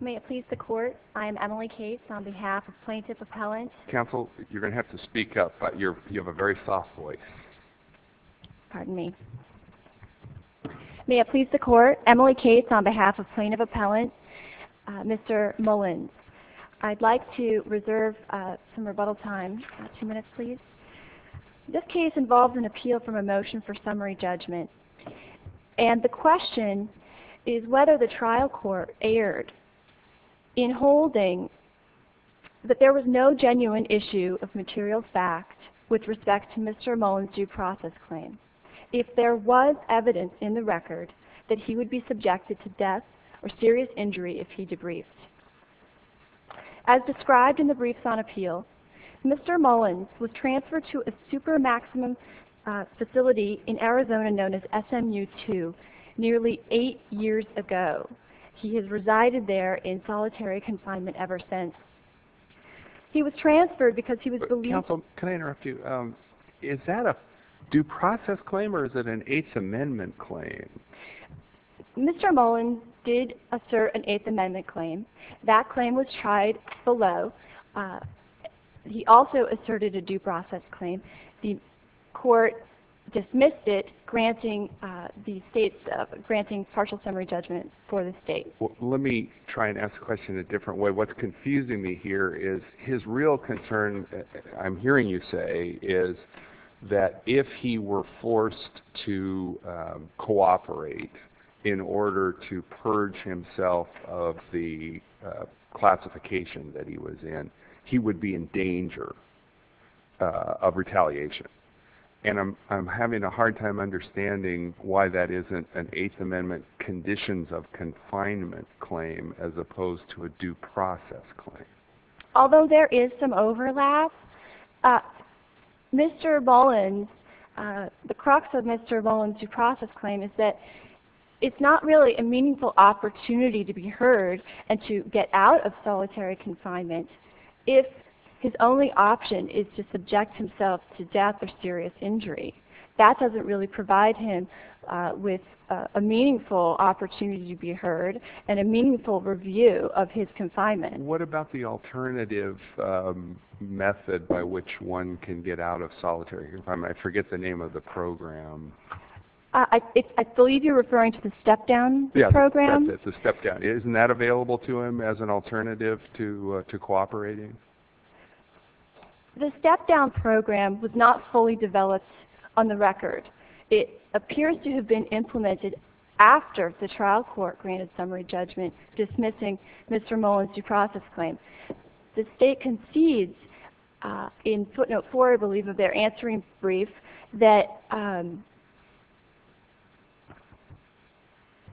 May it please the Court, I am Emily Cates on behalf of Plaintiff Appellant, Mr. Mullins. I'd like to reserve some rebuttal time, two minutes please. This case involves an appeal from a motion for summary judgment. And the question is whether the trial court erred in holding that there was no genuine issue of material fact with respect to Mr. Mullins' due process claim. If there was evidence in the record that he would be subjected to death or serious injury if he debriefed. As described in the briefs on appeal, Mr. Mullins was transferred to a super maximum facility in Arizona known as SMU-2 nearly eight years ago. He has resided there in solitary confinement ever since. He was transferred because he was believed... Counsel, can I interrupt you? Is that a due process claim or is it an Eighth Amendment claim? Mr. Mullins did assert an Eighth Amendment claim. That claim was tried below. He also asserted a due process claim. The court dismissed it granting partial summary judgment for the state. Let me try and ask the question in a different way. What's confusing me here is his real concern, I'm hearing you say, is that if he were forced to cooperate in order to purge himself of the classification that he was in, he would be in danger of retaliation. And I'm having a hard time understanding why that isn't an Eighth Amendment conditions of confinement claim as opposed to a due process claim. Although there is some overlap, Mr. Mullins, the crux of Mr. Mullins' due process claim is that it's not really a meaningful opportunity to be heard and to get out of solitary confinement if his only option is to subject himself to death or serious injury. That doesn't really provide him with a meaningful opportunity to be heard and a meaningful review of his confinement. What about the alternative method by which one can get out of solitary confinement? I forget the name of the program. I believe you're referring to the step-down program? Isn't that available to him as an alternative to cooperating? The step-down program was not fully developed on the record. It appears to have been implemented after the trial court granted summary judgment dismissing Mr. Mullins' due process claim. The state concedes in footnote 4, I believe, of their answering brief that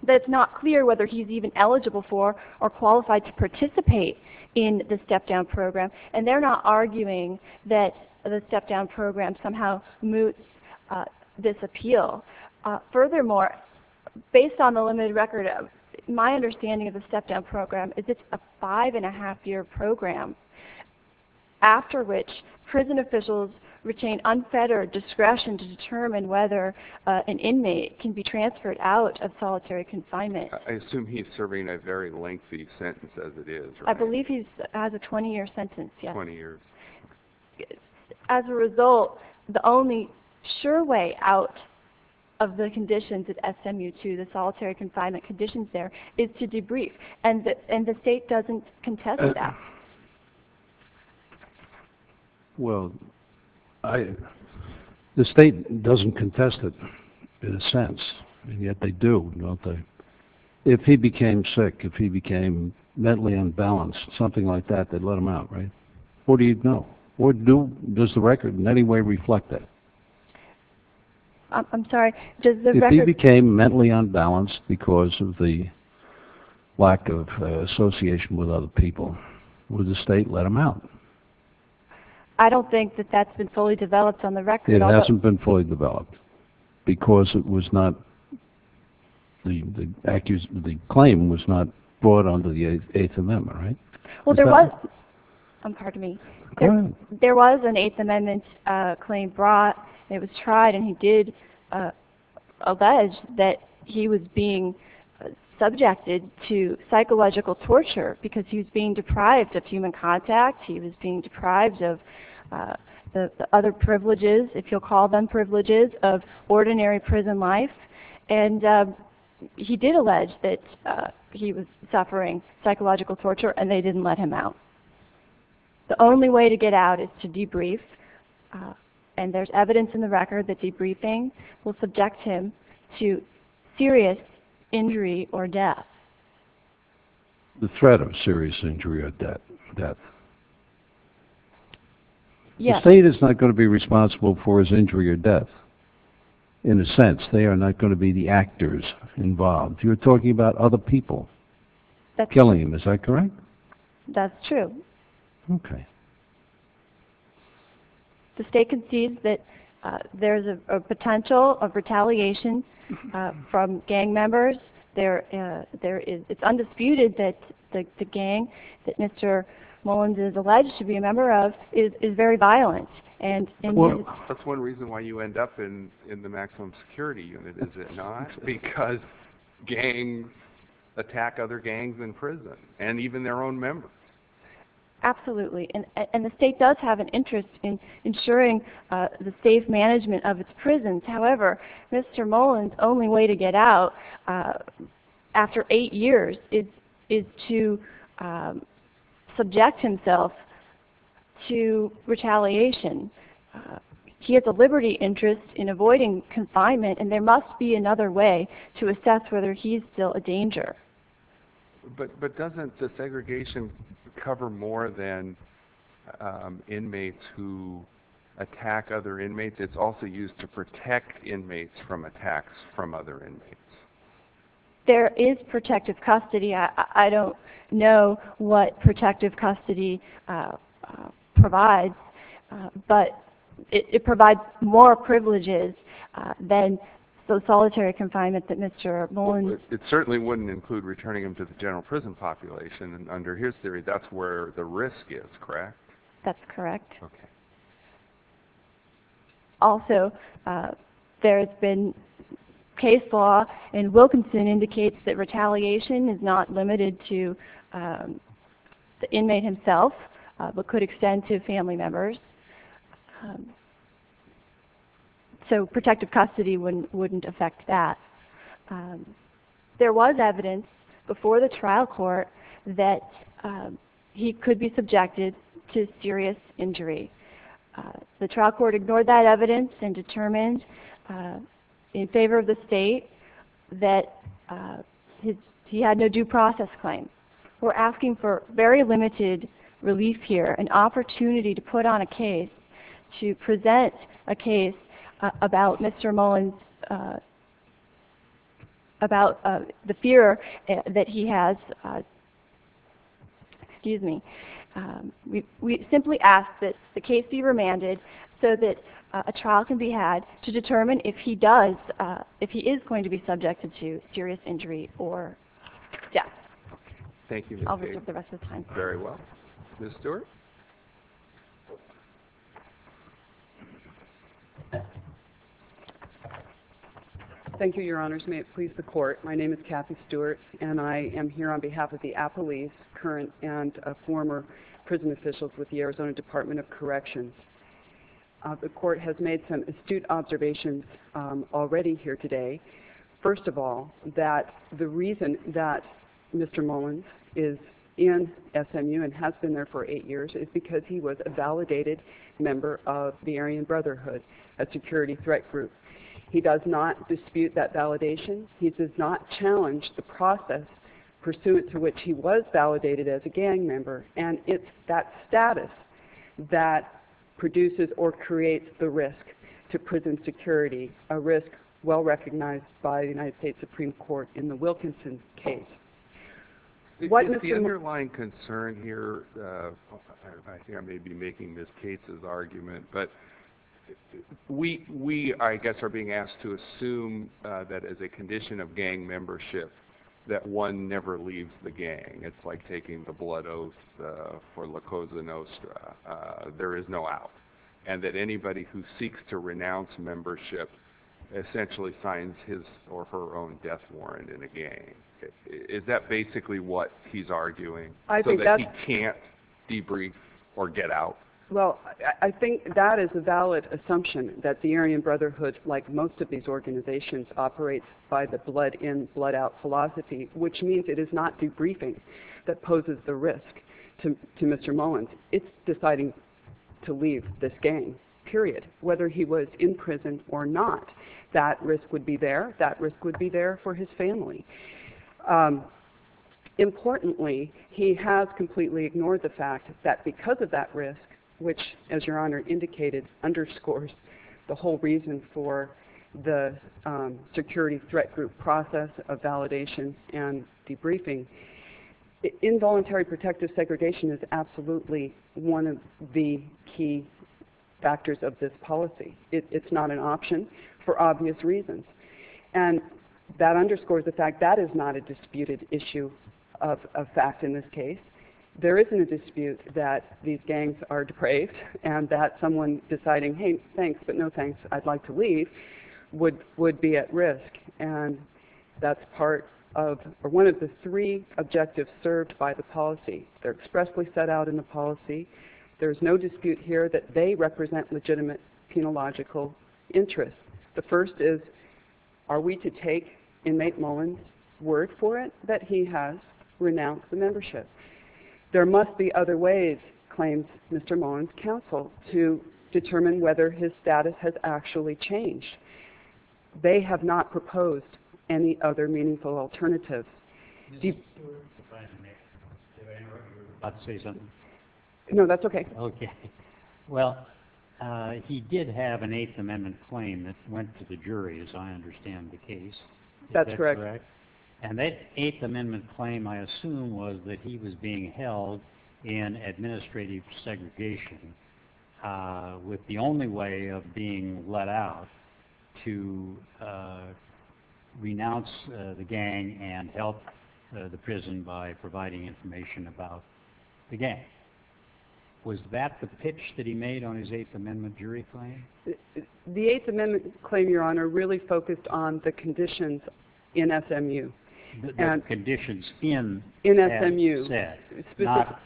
it's not clear whether he's even eligible for or qualified to participate in the step-down program. And they're not arguing that the step-down program somehow moots this appeal. Furthermore, based on the limited record, my understanding of the step-down program is it's a five-and-a-half-year program after which prison officials retain unfettered discretion to determine whether an inmate can be transferred out of solitary confinement. I assume he's serving a very lengthy sentence as it is, right? I believe he has a 20-year sentence, yes. 20 years. As a result, the only sure way out of the conditions at SMU II, the solitary confinement conditions there, is to debrief. And the state doesn't contest that. Well, the state doesn't contest it in a sense, and yet they do, don't they? If he became sick, if he became mentally unbalanced, something like that, they'd let him out, right? What do you know? Does the record in any way reflect that? I'm sorry, does the record... If he became mentally unbalanced because of the lack of association with other people, would the state let him out? I don't think that that's been fully developed on the record. It hasn't been fully developed because it was not... the claim was not brought under the Eighth Amendment, right? Well, there was an Eighth Amendment claim brought, and it was tried, and he did allege that he was being subjected to psychological torture because he was being deprived of human contact, he was being deprived of the other privileges, if you'll call them privileges, of ordinary prison life. And he did allege that he was suffering psychological torture, and they didn't let him out. The only way to get out is to debrief, and there's evidence in the record that debriefing will subject him to serious injury or death. The threat of serious injury or death. Yes. The state is not going to be responsible for his injury or death, in a sense. They are not going to be the actors involved. You're talking about other people killing him, is that correct? That's true. Okay. The state concedes that there's a potential of retaliation from gang members. It's undisputed that the gang that Mr. Mullins is alleged to be a member of is very violent. That's one reason why you end up in the maximum security unit, is it not? Because gangs attack other gangs in prison, and even their own members. Absolutely. And the state does have an interest in ensuring the safe management of its prisons. However, Mr. Mullins' only way to get out after eight years is to subject himself to retaliation. He has a liberty interest in avoiding confinement, and there must be another way to assess whether he's still a danger. But doesn't the segregation cover more than inmates who attack other inmates? It's also used to protect inmates from attacks from other inmates. There is protective custody. I don't know what protective custody provides, but it provides more privileges than the solitary confinement that Mr. Mullins... It certainly wouldn't include returning him to the general prison population, and under his theory, that's where the risk is, correct? That's correct. Okay. Also, there has been case law, and Wilkinson indicates that retaliation is not limited to the inmate himself, but could extend to family members. So protective custody wouldn't affect that. There was evidence before the trial court that he could be subjected to serious injury. The trial court ignored that evidence and determined in favor of the state that he had no due process claim. We're asking for very limited relief here, an opportunity to put on a case, to present a case about Mr. Mullins... Excuse me. We simply ask that the case be remanded so that a trial can be had to determine if he is going to be subjected to serious injury or death. Thank you, Ms. Cate. I'll reserve the rest of the time. Very well. Ms. Stewart? Thank you, Your Honors. May it please the Court. My name is Kathy Stewart, and I am here on behalf of the Apolice, current and former prison officials with the Arizona Department of Corrections. The Court has made some astute observations already here today. First of all, that the reason that Mr. Mullins is in SMU and has been there for eight years, is because he was a validated member of the Aryan Brotherhood, a security threat group. He does not dispute that validation. He does not challenge the process pursuant to which he was validated as a gang member. And it's that status that produces or creates the risk to prison security, a risk well recognized by the United States Supreme Court in the Wilkinson case. The underlying concern here, I think I may be making Ms. Cate's argument, but we, I guess, are being asked to assume that as a condition of gang membership, that one never leaves the gang. It's like taking the blood oath for La Cosa Nostra. There is no out. And that anybody who seeks to renounce membership essentially signs his or her own death warrant in a gang. Is that basically what he's arguing, so that he can't debrief or get out? Well, I think that is a valid assumption, that the Aryan Brotherhood, like most of these organizations, operates by the blood in, blood out philosophy, which means it is not debriefing that poses the risk to Mr. Mullins. It's deciding to leave this gang, period. Whether he was in prison or not, that risk would be there. That risk would be there for his family. Importantly, he has completely ignored the fact that because of that risk, which, as your Honor indicated, underscores the whole reason for the security threat group process of validation and debriefing, involuntary protective segregation is absolutely one of the key factors of this policy. It's not an option for obvious reasons. And that underscores the fact that that is not a disputed issue of fact in this case. There isn't a dispute that these gangs are depraved, and that someone deciding, hey, thanks, but no thanks, I'd like to leave, would be at risk. And that's part of, or one of the three objectives served by the policy. They're expressly set out in the policy. There's no dispute here that they represent legitimate penological interests. The first is, are we to take inmate Mullen's word for it that he has renounced the membership? There must be other ways, claims Mr. Mullen's counsel, to determine whether his status has actually changed. They have not proposed any other meaningful alternative. No, that's okay. Well, he did have an Eighth Amendment claim that went to the jury, as I understand the case. That's correct. And that Eighth Amendment claim, I assume, was that he was being held in administrative segregation with the only way of being let out to renounce the gang and help the prison by providing information about the gang. Was that the pitch that he made on his Eighth Amendment jury claim? The Eighth Amendment claim, Your Honor, really focused on the conditions in SMU. The conditions in, as you said. In SMU. Not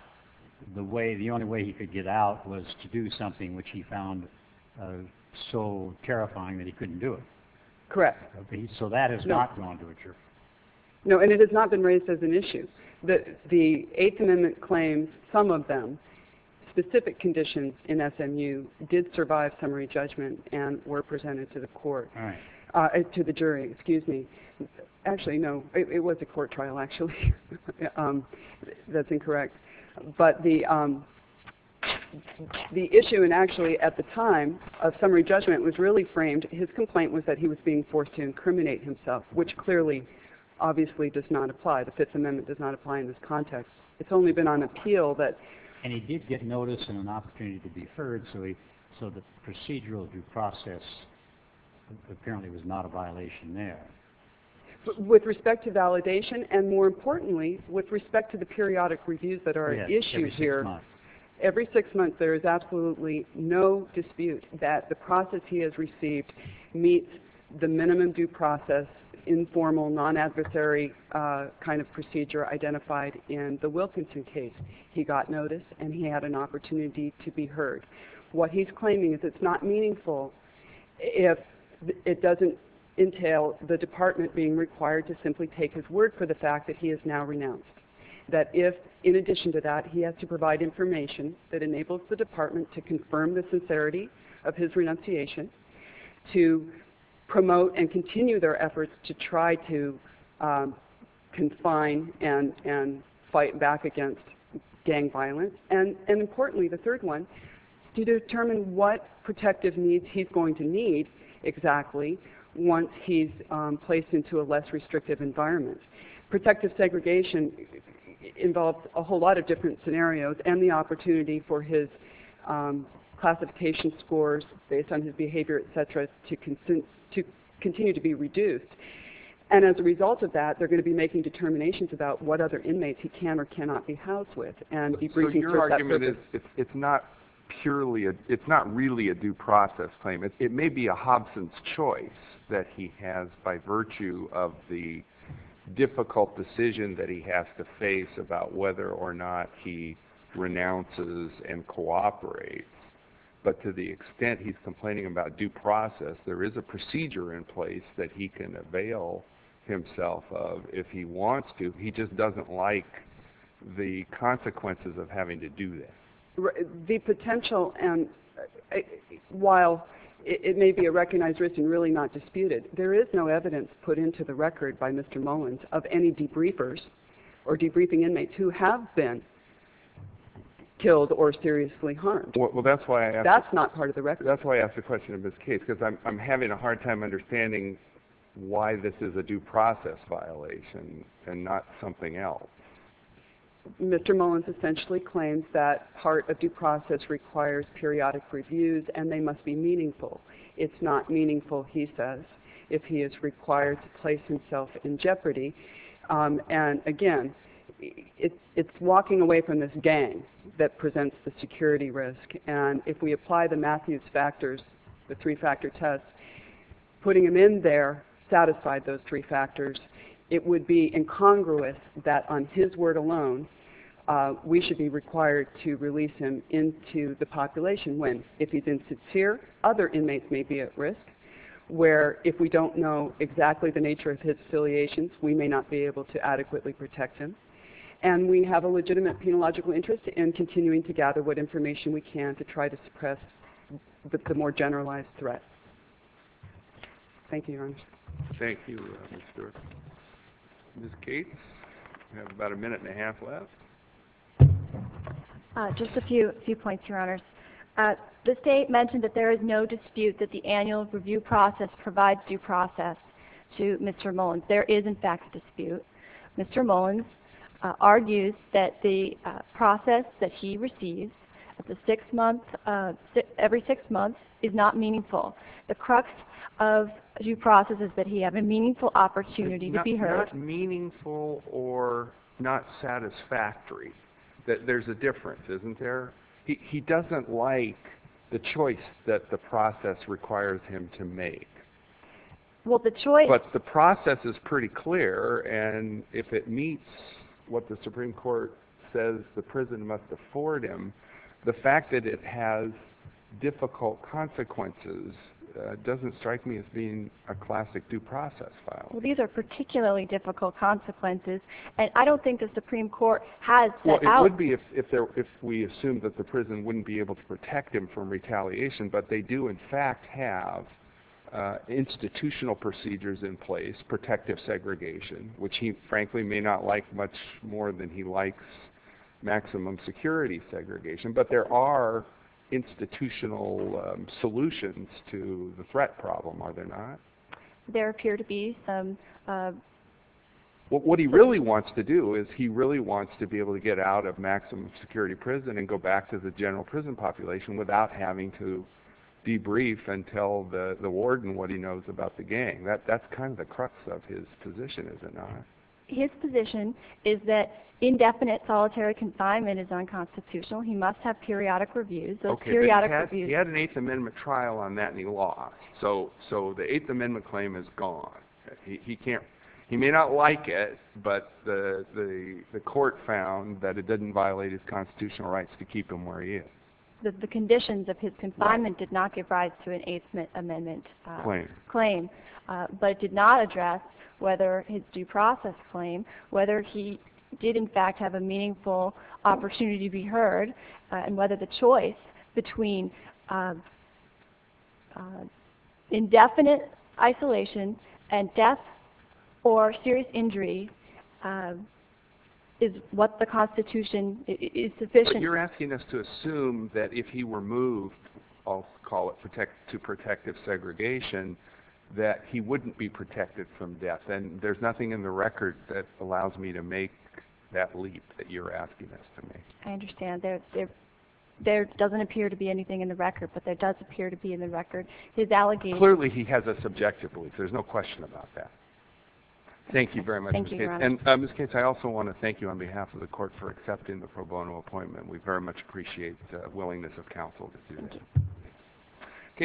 the way, the only way he could get out was to do something which he found so terrifying that he couldn't do it. Correct. So that has not gone to a jury. No, and it has not been raised as an issue. The Eighth Amendment claims, some of them, specific conditions in SMU did survive summary judgment and were presented to the court, to the jury. Excuse me. Actually, no. It was a court trial, actually. That's incorrect. But the issue, and actually at the time of summary judgment, was really framed. His complaint was that he was being forced to incriminate himself, which clearly, obviously, does not apply. The Fifth Amendment does not apply in this context. It's only been on appeal that. And he did get notice and an opportunity to be heard, so the procedural due process apparently was not a violation there. With respect to validation, and more importantly, with respect to the periodic reviews that are at issue here. Every six months. Every six months, there is absolutely no dispute that the process he has received meets the minimum due process, informal, non-adversary kind of procedure identified in the Wilkinson case. He got notice and he had an opportunity to be heard. What he's claiming is it's not meaningful if it doesn't entail the department being required to simply take his word for the fact that he is now renounced. That if, in addition to that, he has to provide information that enables the department to confirm the sincerity of his renunciation, to promote and continue their efforts to try to confine and fight back against gang violence, and importantly, the third one, to determine what protective needs he's going to need exactly once he's placed into a less restrictive environment. Protective segregation involves a whole lot of different scenarios and the opportunity for his classification scores based on his behavior, etc., to continue to be reduced. And as a result of that, they're going to be making determinations about what other inmates he can or cannot be housed with. So your argument is it's not really a due process claim. It may be a Hobson's choice that he has by virtue of the difficult decision that he has to face about whether or not he renounces and cooperates. But to the extent he's complaining about due process, there is a procedure in place that he can avail himself of if he wants to. He just doesn't like the consequences of having to do this. The potential, and while it may be a recognized risk and really not disputed, there is no evidence put into the record by Mr. Mullins of any debriefers or debriefing inmates who have been killed or seriously harmed. That's not part of the record. That's why I asked the question of his case, because I'm having a hard time understanding why this is a due process violation and not something else. Mr. Mullins essentially claims that part of due process requires periodic reviews and they must be meaningful. It's not meaningful, he says, if he is required to place himself in jeopardy. And again, it's walking away from this gang that presents the security risk. And if we apply the Matthews factors, the three-factor test, putting him in there, satisfied those three factors, it would be incongruous that on his word alone we should be required to release him into the population when, if he's insincere, other inmates may be at risk, where if we don't know exactly the nature of his affiliations, we may not be able to adequately protect him. And we have a legitimate penological interest in continuing to gather what information we can to try to suppress the more generalized threat. Thank you, Your Honor. Thank you, Ms. Stewart. Ms. Gates, you have about a minute and a half left. Just a few points, Your Honor. The State mentioned that there is no dispute that the annual review process provides due process to Mr. Mullins. There is, in fact, a dispute. Mr. Mullins argues that the process that he receives every six months is not meaningful. The crux of due process is that he has a meaningful opportunity to be heard. Not meaningful or not satisfactory. There's a difference, isn't there? He doesn't like the choice that the process requires him to make. But the process is pretty clear, and if it meets what the Supreme Court says the prison must afford him, the fact that it has difficult consequences doesn't strike me as being a classic due process file. These are particularly difficult consequences, and I don't think the Supreme Court has set out It would be if we assumed that the prison wouldn't be able to protect him from retaliation, but they do, in fact, have institutional procedures in place, protective segregation, which he, frankly, may not like much more than he likes maximum security segregation. But there are institutional solutions to the threat problem, are there not? There appear to be some. What he really wants to do is he really wants to be able to get out of maximum security prison and go back to the general prison population without having to debrief and tell the warden what he knows about the gang. That's kind of the crux of his position, is it not? His position is that indefinite solitary confinement is unconstitutional. He must have periodic reviews. He had an Eighth Amendment trial on that, and he lost. So the Eighth Amendment claim is gone. He may not like it, but the court found that it didn't violate his constitutional rights to keep him where he is. The conditions of his confinement did not give rise to an Eighth Amendment claim, but it did not address whether his due process claim, whether he did, in fact, have a meaningful opportunity to be heard, and whether the choice between indefinite isolation and death or serious injury is what the Constitution is sufficient for. But you're asking us to assume that if he were moved, I'll call it to protective segregation, that he wouldn't be protected from death. And there's nothing in the record that allows me to make that leap that you're asking us to make. I understand. There doesn't appear to be anything in the record, but there does appear to be in the record. Clearly, he has a subjective belief. There's no question about that. Thank you very much, Ms. Cates. Thank you, Your Honor. And, Ms. Cates, I also want to thank you on behalf of the court for accepting the pro bono appointment. We very much appreciate the willingness of counsel to do this. Thank you.